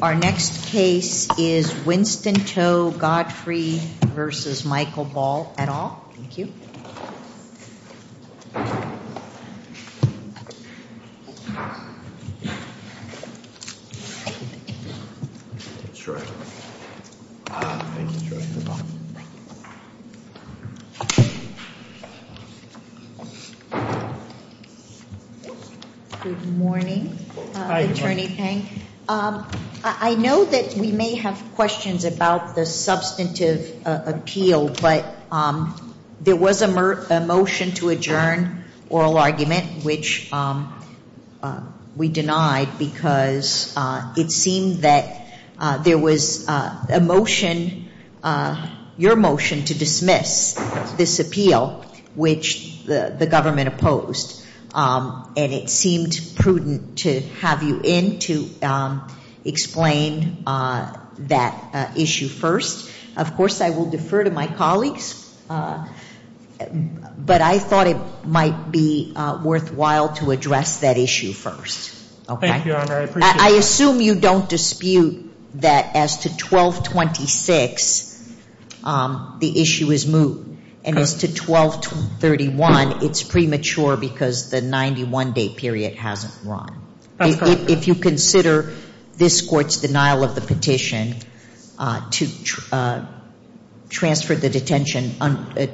Our next case is Winston Cho Godfrey v. Michael Ball et al. Good morning, Attorney Peng. I know that we may have questions about the substantive appeal but there was a motion to adjourn oral argument which we denied because it seemed that there was a motion, your motion, to dismiss this appeal which the government opposed and it seemed prudent to have you in to explain that issue first. Of course, I will defer to my colleagues but I thought it might be worthwhile to address that issue first. Okay. Thank you, Your Honor. I appreciate that. I assume you don't dispute that as to 1226, the issue is moved and as to 1231, it's premature because the 91-day period hasn't run. That's correct. If you consider this court's denial of the petition to transfer the detention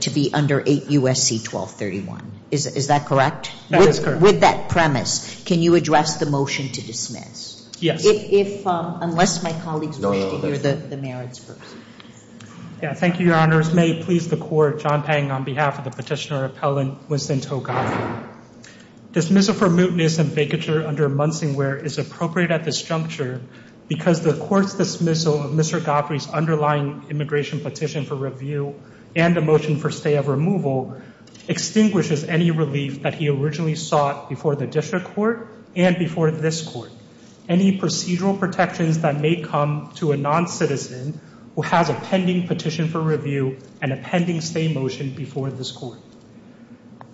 to be under 8 U.S.C. 1231. Is that correct? That is correct. With that premise, can you address the motion to dismiss? Yes. If, unless my colleagues wish to hear the merits first. Thank you, Your Honors. May it please the court, John Peng on behalf of the petitioner appellant, Winston Cho Godfrey. Dismissal for mootness and vacature under Munsingware is appropriate at this juncture because the court's dismissal of Mr. Godfrey's underlying immigration petition for review and the motion for stay of removal extinguishes any relief that he originally sought before the district court and before this court. Any procedural protections that may come to a non-citizen who has a pending petition for review and a pending stay motion before this court.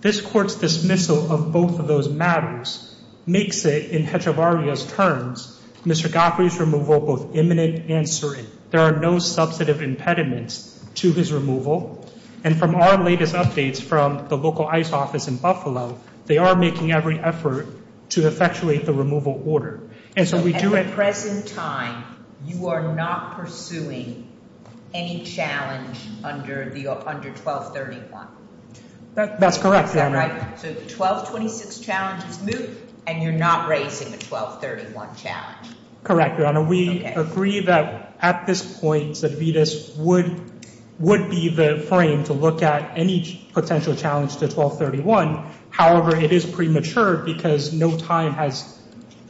This court's dismissal of both of those matters makes it, in Hedrevaria's terms, Mr. Godfrey's removal both imminent and certain. There are no substantive impediments to his removal and from our latest updates from the local ICE office in Buffalo, they are making every effort to effectuate the removal order. At the present time, you are not pursuing any challenge under 1231? That's correct, Your Honor. So 1226 challenges moot and you're not raising a 1231 challenge? Correct, Your Honor. We agree that at this point, Cervides would be the frame to look at any potential challenge to 1231. However, it is premature because no time has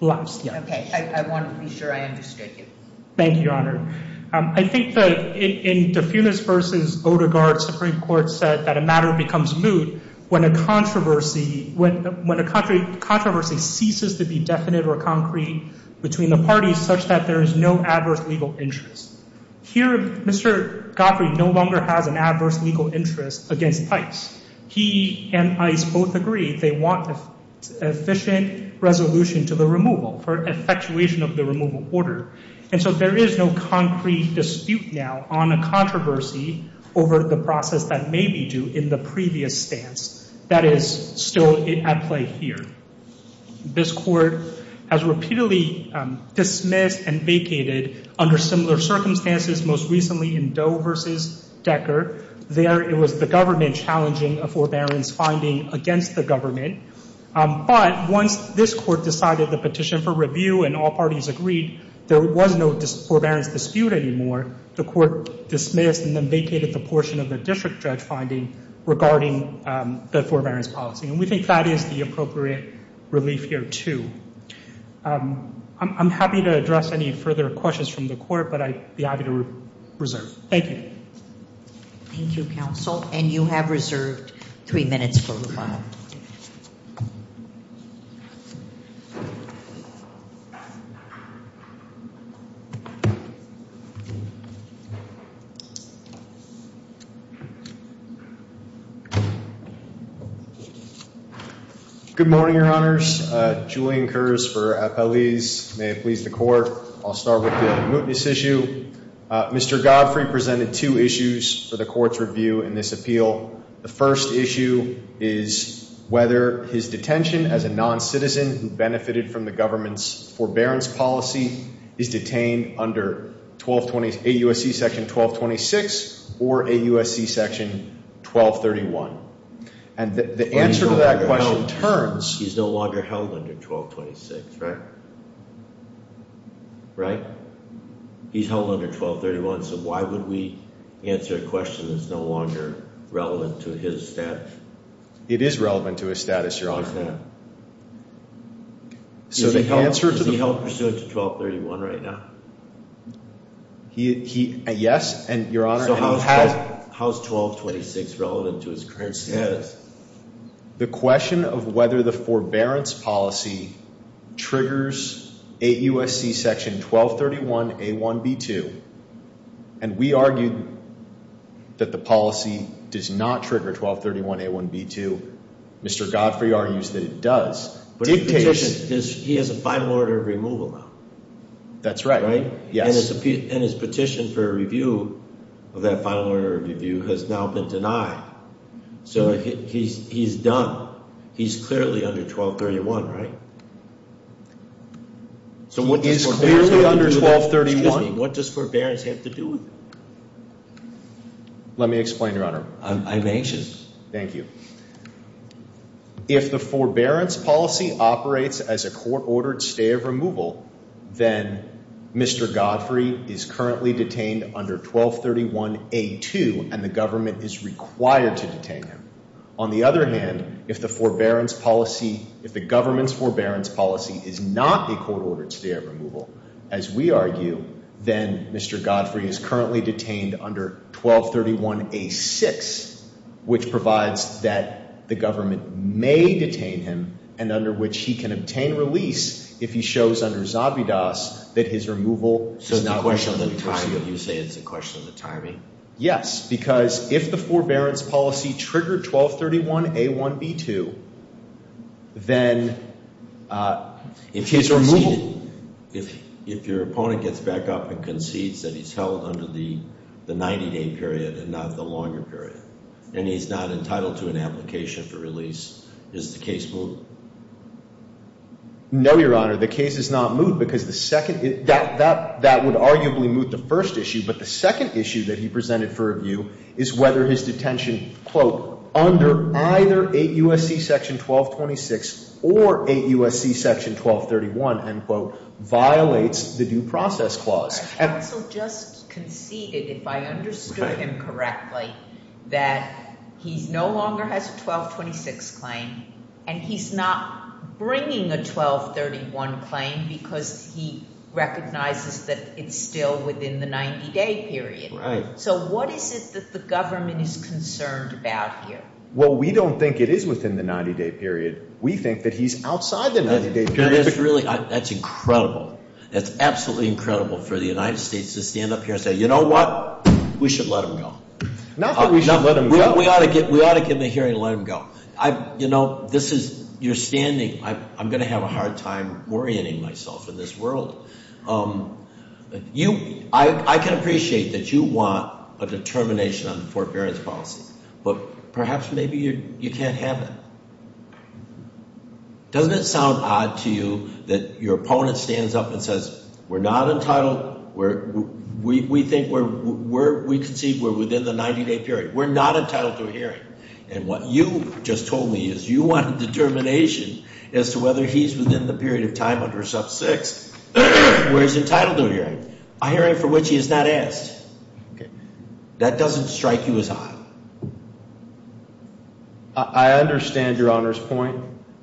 elapsed yet. Okay, I want to be sure I understood you. Thank you, Your Honor. I think that in De Funes v. Odegaard, Supreme Court said that a matter becomes moot when a controversy ceases to be definite or concrete between the parties such that there is no adverse legal interest. Here, Mr. Godfrey no longer has an adverse legal interest against ICE. He and ICE both agree they want an efficient resolution to the removal for effectuation of the removal order. And so there is no concrete dispute now on a controversy over the process that may be due in the previous stance. That is still at play here. This Court has repeatedly dismissed and vacated under similar circumstances, most recently in Doe v. Decker. There it was the government challenging a forbearance finding against the government. But once this Court decided the petition for review and all parties agreed there was no forbearance dispute anymore, the Court dismissed and then vacated the portion of the district judge finding regarding the forbearance policy. And we think that is the appropriate relief here, too. I'm happy to address any further questions from the Court, but I'd be happy to reserve. Thank you. Thank you, Counsel. And you have reserved three minutes for rebuttal. Good morning, Your Honors. Julian Kurz for Appellees. May it please the Court, I'll start with the mootness issue. Mr. Godfrey presented two issues for the Court's review in this appeal. The first issue is whether his detention as a non-citizen who benefited from the government's forbearance policy is detained under AUSC Section 1226 or AUSC Section 1231. And the answer to that question turns... He's no longer held under 1226, right? Right? He's held under 1231, so why would we answer a question that's no longer relevant to his status? It is relevant to his status, Your Honor. Is that... So the answer to the... Is he held pursuant to 1231 right now? Yes, and Your Honor, and he has... So how is 1226 relevant to his current status? The question of whether the forbearance policy triggers AUSC Section 1231A1B2, and we argued that the policy does not trigger 1231A1B2. Mr. Godfrey argues that it does. But his petition, he has a final order of removal now. That's right. And his petition for a review of that final order of review has now been denied. So he's done. He's clearly under 1231, right? He is clearly under 1231. Excuse me, what does forbearance have to do with it? Let me explain, Your Honor. I'm anxious. Thank you. If the forbearance policy operates as a court-ordered stay of removal, then Mr. Godfrey is currently detained under 1231A2, and the government is required to detain him. On the other hand, if the forbearance policy, if the government's forbearance policy is not a court-ordered stay of removal, as we argue, then Mr. Godfrey is currently detained under 1231A6, which provides that the government may detain him, and under which he can obtain release if he shows under Zabidas that his removal So it's not a question of the timing? You say it's a question of the timing? Yes, because if the forbearance policy triggered 1231A1B2, then his removal If your opponent gets back up and concedes that he's held under the 90-day period and not the longer period, and he's not entitled to an application for release, does the case moot? No, Your Honor, the case is not moot, because that would arguably moot the first issue, but the second issue that he presented for review is whether his detention under either 8 U.S.C. 1226 or 8 U.S.C. 1231 violates the due process clause. Counsel just conceded, if I understood him correctly, that he no longer has a 1226 claim, and he's not bringing a 1231 claim because he recognizes that it's still within the 90-day period. So what is it that the government is concerned about here? Well, we don't think it is within the 90-day period. We think that he's outside the 90-day period. That's incredible. That's absolutely incredible for the United States to stand up here and say, you know what, we should let him go. Not that we should let him go. We ought to give him a hearing and let him go. You know, this is your standing. I'm going to have a hard time orienting myself in this world. I can appreciate that you want a determination on the forbearance policy, but perhaps maybe you can't have that. Doesn't it sound odd to you that your opponent stands up and says, we're not entitled, we think we're within the 90-day period, we're not entitled to a hearing, and what you just told me is you want a determination as to whether he's within the period of time under sub 6 where he's entitled to a hearing, a hearing for which he is not asked. That doesn't strike you as odd? I understand Your Honor's point,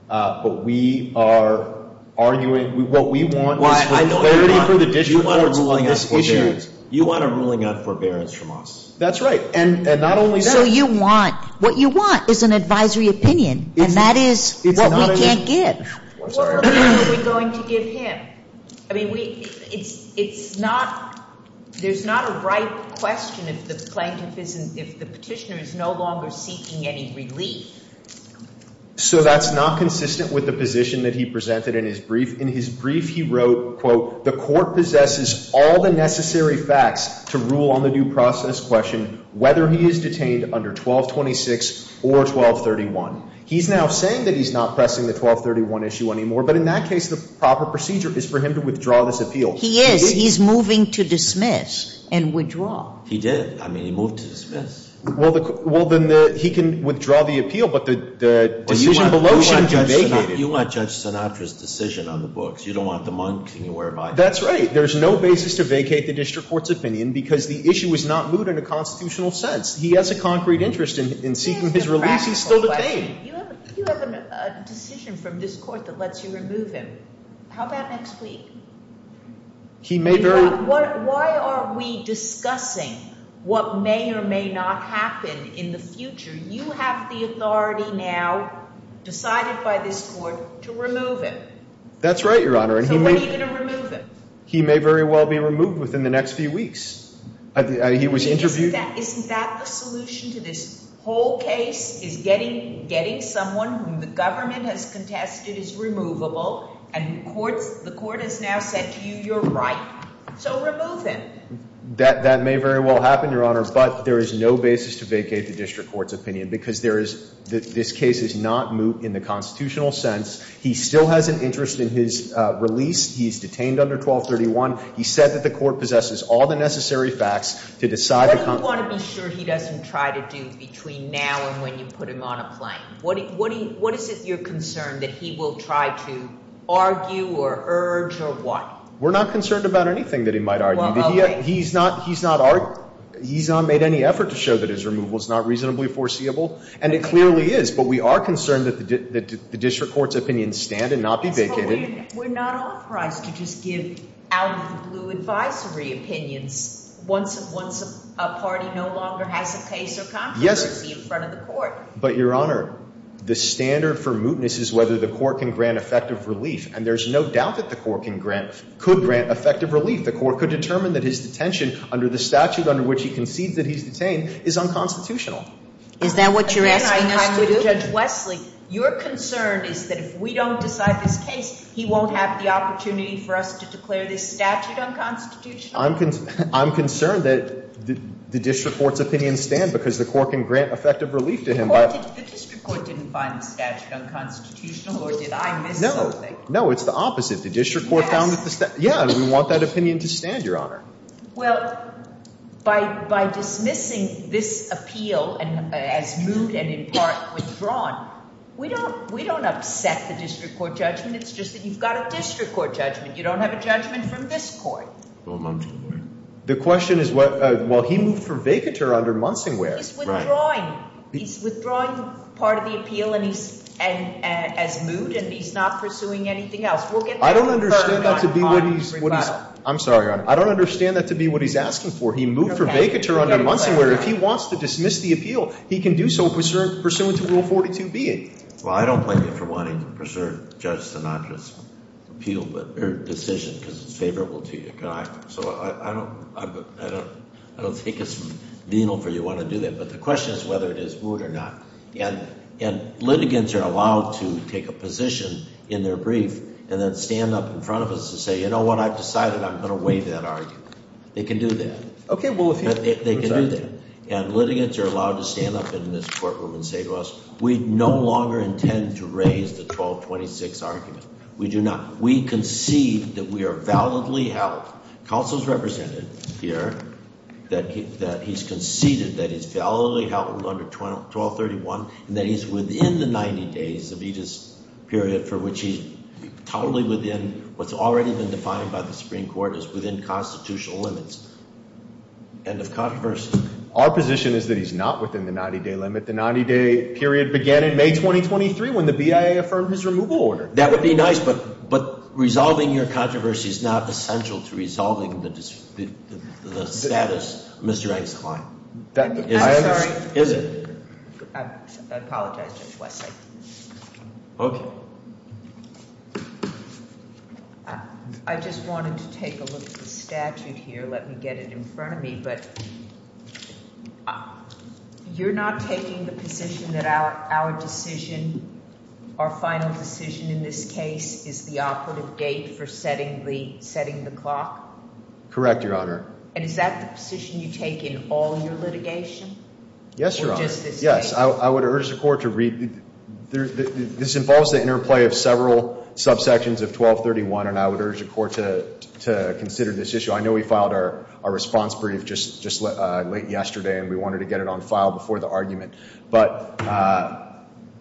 but we are arguing. What we want is clarity for the district courts on this issue. You want a ruling on forbearance from us. That's right. And not only that. So you want, what you want is an advisory opinion, and that is what we can't give. What ruling are we going to give him? I mean, it's not, there's not a right question if the plaintiff isn't, if the petitioner is no longer seeking any relief. So that's not consistent with the position that he presented in his brief. In his brief he wrote, quote, the court possesses all the necessary facts to rule on the due process question whether he is detained under 1226 or 1231. He's now saying that he's not pressing the 1231 issue anymore, but in that case the proper procedure is for him to withdraw this appeal. He is. He's moving to dismiss and withdraw. He did. I mean, he moved to dismiss. Well, then he can withdraw the appeal, but the decision below shouldn't be vacated. You want Judge Sinatra's decision on the books. You don't want the monk anywhere. That's right. There's no basis to vacate the district court's opinion because the issue is not moved in a constitutional sense. He has a concrete interest in seeking his release. He's still detained. You have a decision from this court that lets you remove him. How about next week? Why are we discussing what may or may not happen in the future? You have the authority now decided by this court to remove him. That's right, Your Honor. So when are you going to remove him? He may very well be removed within the next few weeks. Isn't that the solution to this whole case is getting someone whom the government has contested is removable and the court has now said to you, you're right, so remove him. That may very well happen, Your Honor, but there is no basis to vacate the district court's opinion because this case is not moved in the constitutional sense. He still has an interest in his release. He's detained under 1231. He said that the court possesses all the necessary facts to decide. What do you want to be sure he doesn't try to do between now and when you put him on a plane? What is it you're concerned that he will try to argue or urge or what? We're not concerned about anything that he might argue. He's not made any effort to show that his removal is not reasonably foreseeable, and it clearly is, but we are concerned that the district court's opinion stand and not be vacated. We're not authorized to just give out-of-the-blue advisory opinions once a party no longer has a case or controversy in front of the court. But, Your Honor, the standard for mootness is whether the court can grant effective relief, and there's no doubt that the court could grant effective relief. The court could determine that his detention under the statute under which he concedes that he's detained is unconstitutional. Is that what you're asking us to do? Judge Wesley, your concern is that if we don't decide this case, he won't have the opportunity for us to declare this statute unconstitutional? I'm concerned that the district court's opinion stand because the court can grant effective relief to him by- The district court didn't find the statute unconstitutional, or did I miss something? No, it's the opposite. The district court found that the statute- Yes. Yeah, and we want that opinion to stand, Your Honor. Well, by dismissing this appeal as moot and in part withdrawn, we don't upset the district court judgment. It's just that you've got a district court judgment. You don't have a judgment from this court. Or Munsingway. The question is, well, he moved for vacatur under Munsingway. He's withdrawing. He's withdrawing part of the appeal as moot and he's not pursuing anything else. I don't understand that to be what he's- I'm sorry, Your Honor. I don't understand that to be what he's asking for. He moved for vacatur under Munsingway. If he wants to dismiss the appeal, he can do so pursuant to Rule 42B. Well, I don't blame you for wanting to preserve Judge Sinatra's decision because it's favorable to you. So I don't think it's venal for you to want to do that. But the question is whether it is moot or not. And litigants are allowed to take a position in their brief and then stand up in front of us and say, you know what? I've decided I'm going to waive that argument. They can do that. Okay, well, if you- They can do that. And litigants are allowed to stand up in this courtroom and say to us, we no longer intend to raise the 1226 argument. We do not. We concede that we are validly held. Counsel's represented here that he's conceded that he's validly held under 1231 and that he's within the 90 days of each period for which he's totally within what's already been defined by the Supreme Court as within constitutional limits. End of controversy. Our position is that he's not within the 90-day limit. The 90-day period began in May 2023 when the BIA affirmed his removal order. That would be nice, but resolving your controversy is not essential to resolving the status of Mr. Engstlein. I'm sorry. Is it? I apologize, Judge West. Okay. I just wanted to take a look at the statute here. Let me get it in front of me. But you're not taking the position that our decision, our final decision in this case is the operative date for setting the clock? Correct, Your Honor. And is that the position you take in all your litigation? Yes, Your Honor. Or just this case? Yes. I would urge the court to read. This involves the interplay of several subsections of 1231, and I would urge the court to consider this issue. So I know we filed our response brief just late yesterday, and we wanted to get it on file before the argument. But,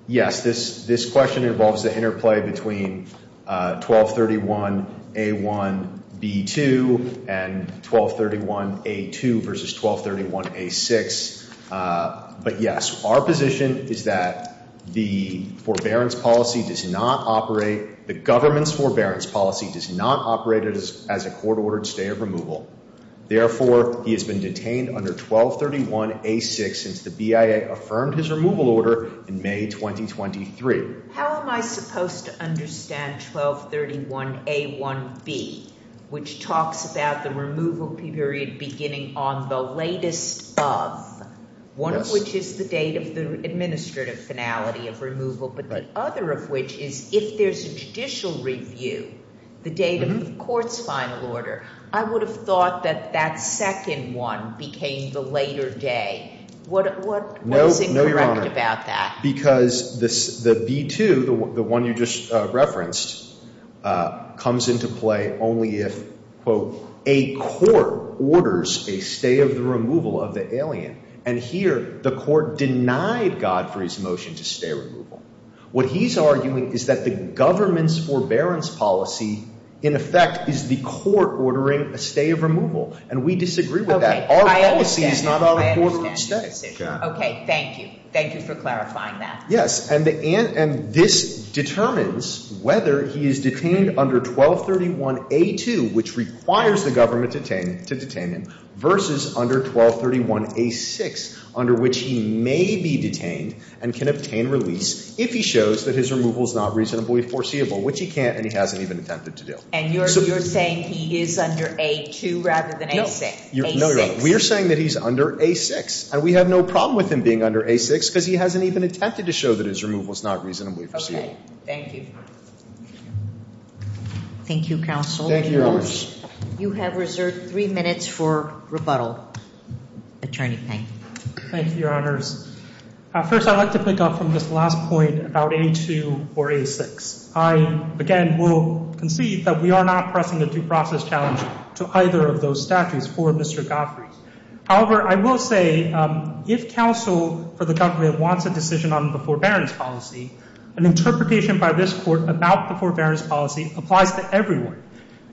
yes, this question involves the interplay between 1231A1B2 and 1231A2 versus 1231A6. But, yes, our position is that the forbearance policy does not operate, the government's forbearance policy does not operate as a court-ordered stay of removal. Therefore, he has been detained under 1231A6 since the BIA affirmed his removal order in May 2023. How am I supposed to understand 1231A1B, which talks about the removal period beginning on the latest of, one of which is the date of the administrative finality of removal, but the other of which is if there's a judicial review, the date of the court's final order, I would have thought that that second one became the later day. What is incorrect about that? No, Your Honor, because the B2, the one you just referenced, comes into play only if, quote, a court orders a stay of the removal of the alien. And here, the court denied God for his motion to stay removal. What he's arguing is that the government's forbearance policy, in effect, is the court ordering a stay of removal. And we disagree with that. Our policy is not on a court-ordered stay. Okay, thank you. Thank you for clarifying that. Yes, and this determines whether he is detained under 1231A2, which requires the government to detain him, versus under 1231A6, under which he may be detained and can obtain release if he shows that his removal is not reasonably foreseeable, which he can't and he hasn't even attempted to do. And you're saying he is under A2 rather than A6? A6. No, Your Honor. We are saying that he's under A6. And we have no problem with him being under A6 because he hasn't even attempted to show that his removal is not reasonably foreseeable. Okay. Thank you. Thank you, counsel. Thank you, Your Honors. You have reserved three minutes for rebuttal. Attorney Peng. Thank you, Your Honors. First, I'd like to pick up from this last point about A2 or A6. I, again, will concede that we are not pressing a due process challenge to either of those statutes for Mr. Godfrey. However, I will say if counsel for the government wants a decision on the forbearance policy, an interpretation by this court about the forbearance policy applies to everyone.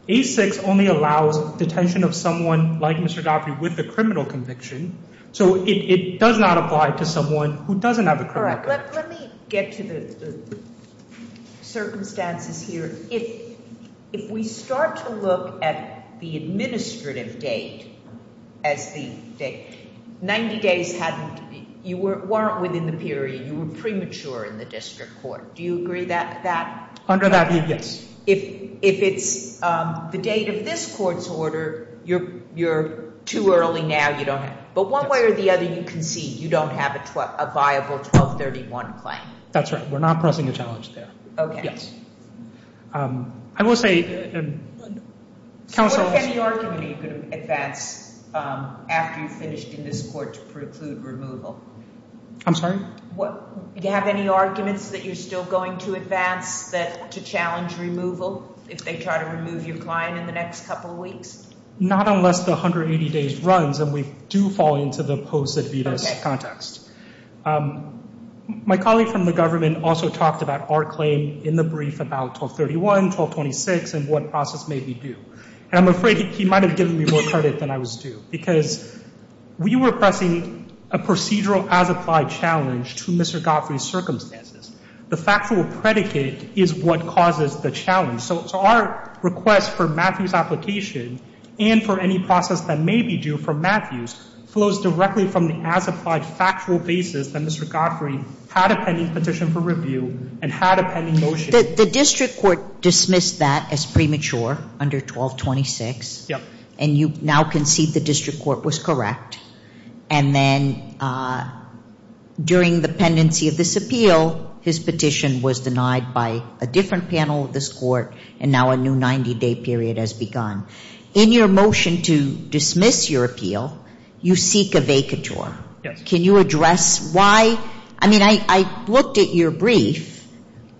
A6 only allows detention of someone like Mr. Godfrey with a criminal conviction. So it does not apply to someone who doesn't have a criminal conviction. All right. Let me get to the circumstances here. If we start to look at the administrative date as the 90 days you weren't within the period. You were premature in the district court. Do you agree with that? Under that, yes. If it's the date of this court's order, you're too early now. You don't have it. But one way or the other, you concede. You don't have a viable 1231 claim. That's right. We're not pressing a challenge there. Okay. Yes. I will say counsel has— What if any argument are you going to advance after you've finished in this court to preclude removal? I'm sorry? Do you have any arguments that you're still going to advance to challenge removal if they try to remove your client in the next couple of weeks? Not unless the 180 days runs and we do fall into the posted VITAS context. My colleague from the government also talked about our claim in the brief about 1231, 1226, and what process made me do. And I'm afraid he might have given me more credit than I was due because we were pressing a procedural as-applied challenge to Mr. Godfrey's circumstances. The factual predicate is what causes the challenge. So our request for Matthew's application and for any process that may be due for Matthews flows directly from the as-applied factual basis that Mr. Godfrey had a pending petition for review and had a pending motion. The district court dismissed that as premature under 1226. Yes. And you now concede the district court was correct. And then during the pendency of this appeal, his petition was denied by a different panel of this court, and now a new 90-day period has begun. In your motion to dismiss your appeal, you seek a vacatur. Yes. Can you address why? I mean, I looked at your brief,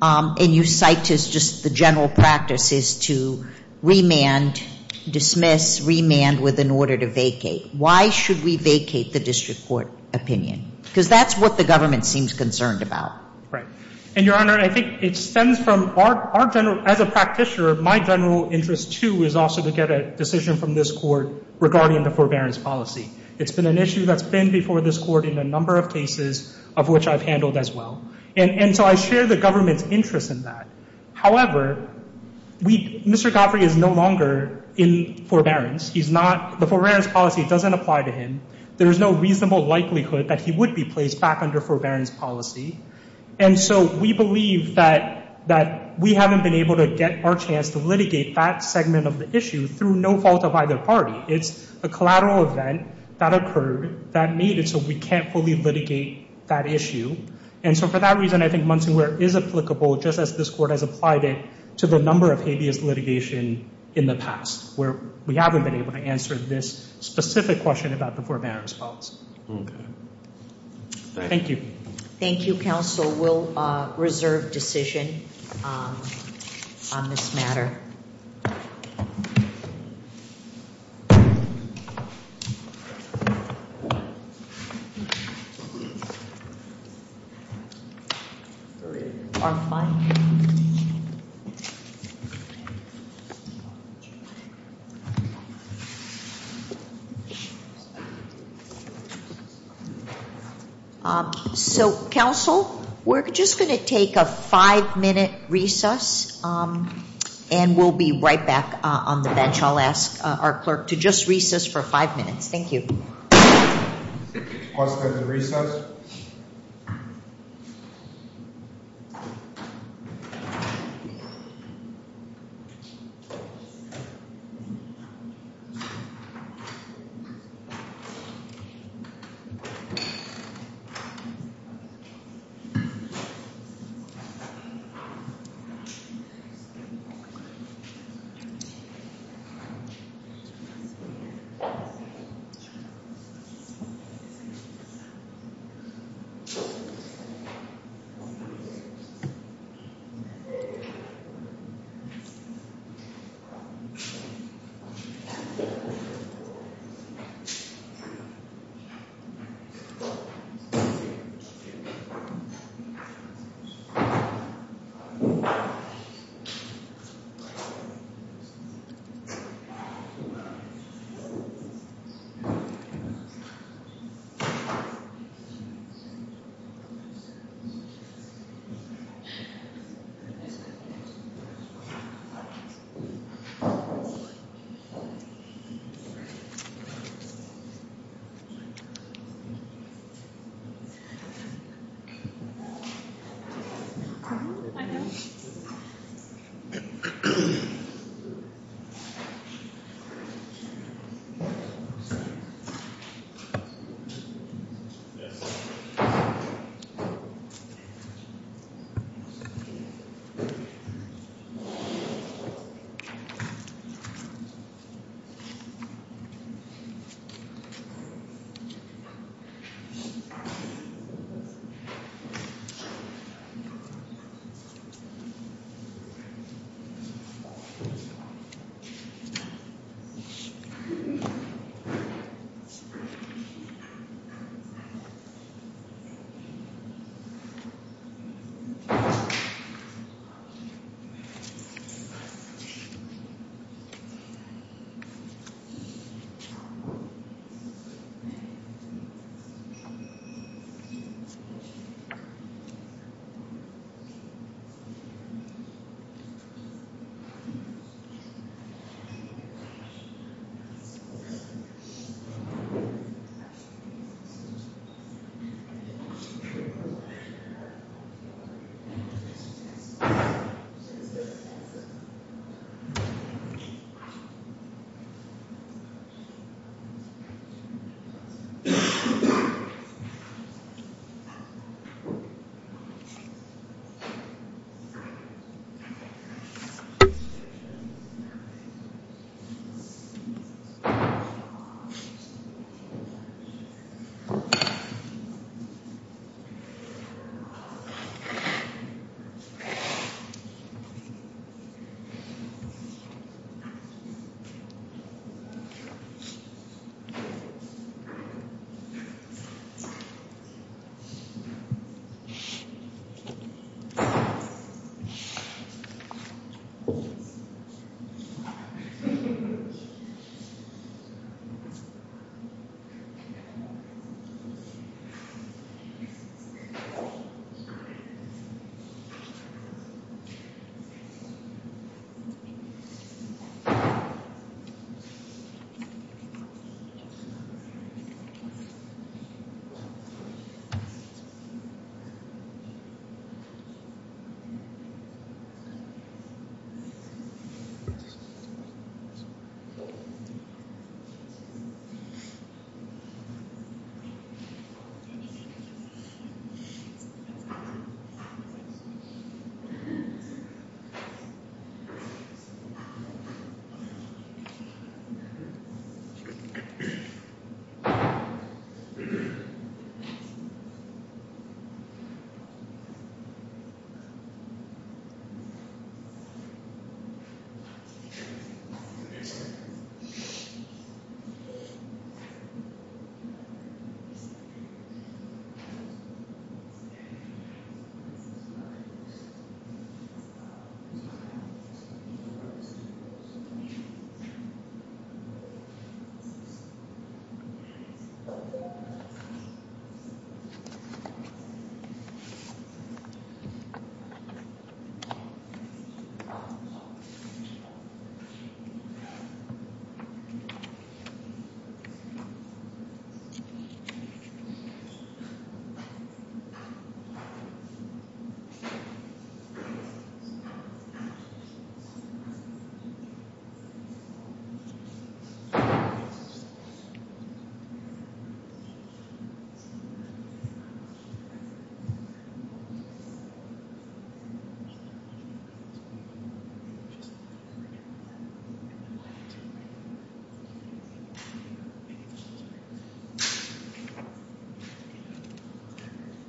and you cite just the general practice is to remand, dismiss, remand with an order to vacate. Why should we vacate the district court opinion? Because that's what the government seems concerned about. And, Your Honor, I think it stems from our general, as a practitioner, my general interest, too, is also to get a decision from this court regarding the forbearance policy. It's been an issue that's been before this court in a number of cases, of which I've handled as well. And so I share the government's interest in that. However, Mr. Godfrey is no longer in forbearance. The forbearance policy doesn't apply to him. There is no reasonable likelihood that he would be placed back under forbearance policy. And so we believe that we haven't been able to get our chance to litigate that segment of the issue through no fault of either party. It's a collateral event that occurred that made it so we can't fully litigate that issue. And so for that reason, I think Monsonware is applicable, just as this court has applied it, to the number of habeas litigation in the past, where we haven't been able to answer this specific question about the forbearance policy. Okay. Thank you. Thank you, counsel. We'll reserve decision on this matter. Thank you. So, counsel, we're just going to take a five-minute recess, and we'll be right back on the bench. I'll ask our clerk to just recess for five minutes. Thank you. Clause for the recess.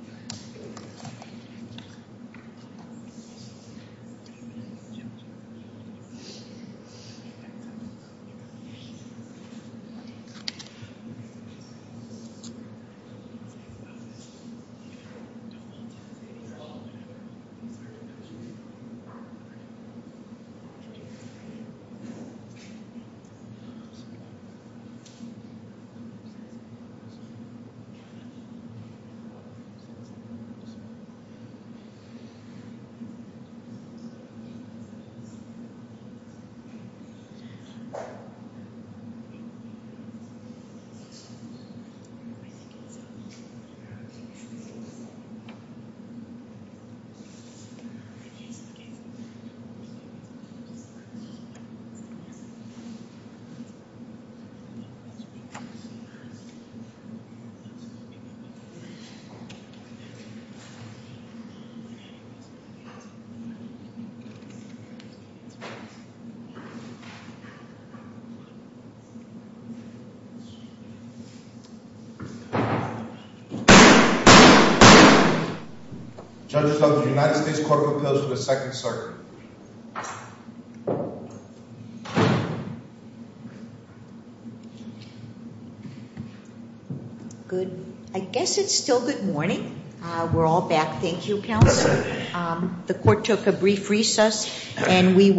Clause for the recess. Clause for the recess. Clause for the recess. Clause for the recess. Clause for the recess. Clause for the recess. Clause for the recess. Clause for the recess. Clause for the recess. Thank you. Thank you. Thank you. Thank you. Thank you. Thank you. Thank you. Judges, the United States court propels to the second circuit. I guess it's still good morning. We're all back. Thank you. The court took a brief recess.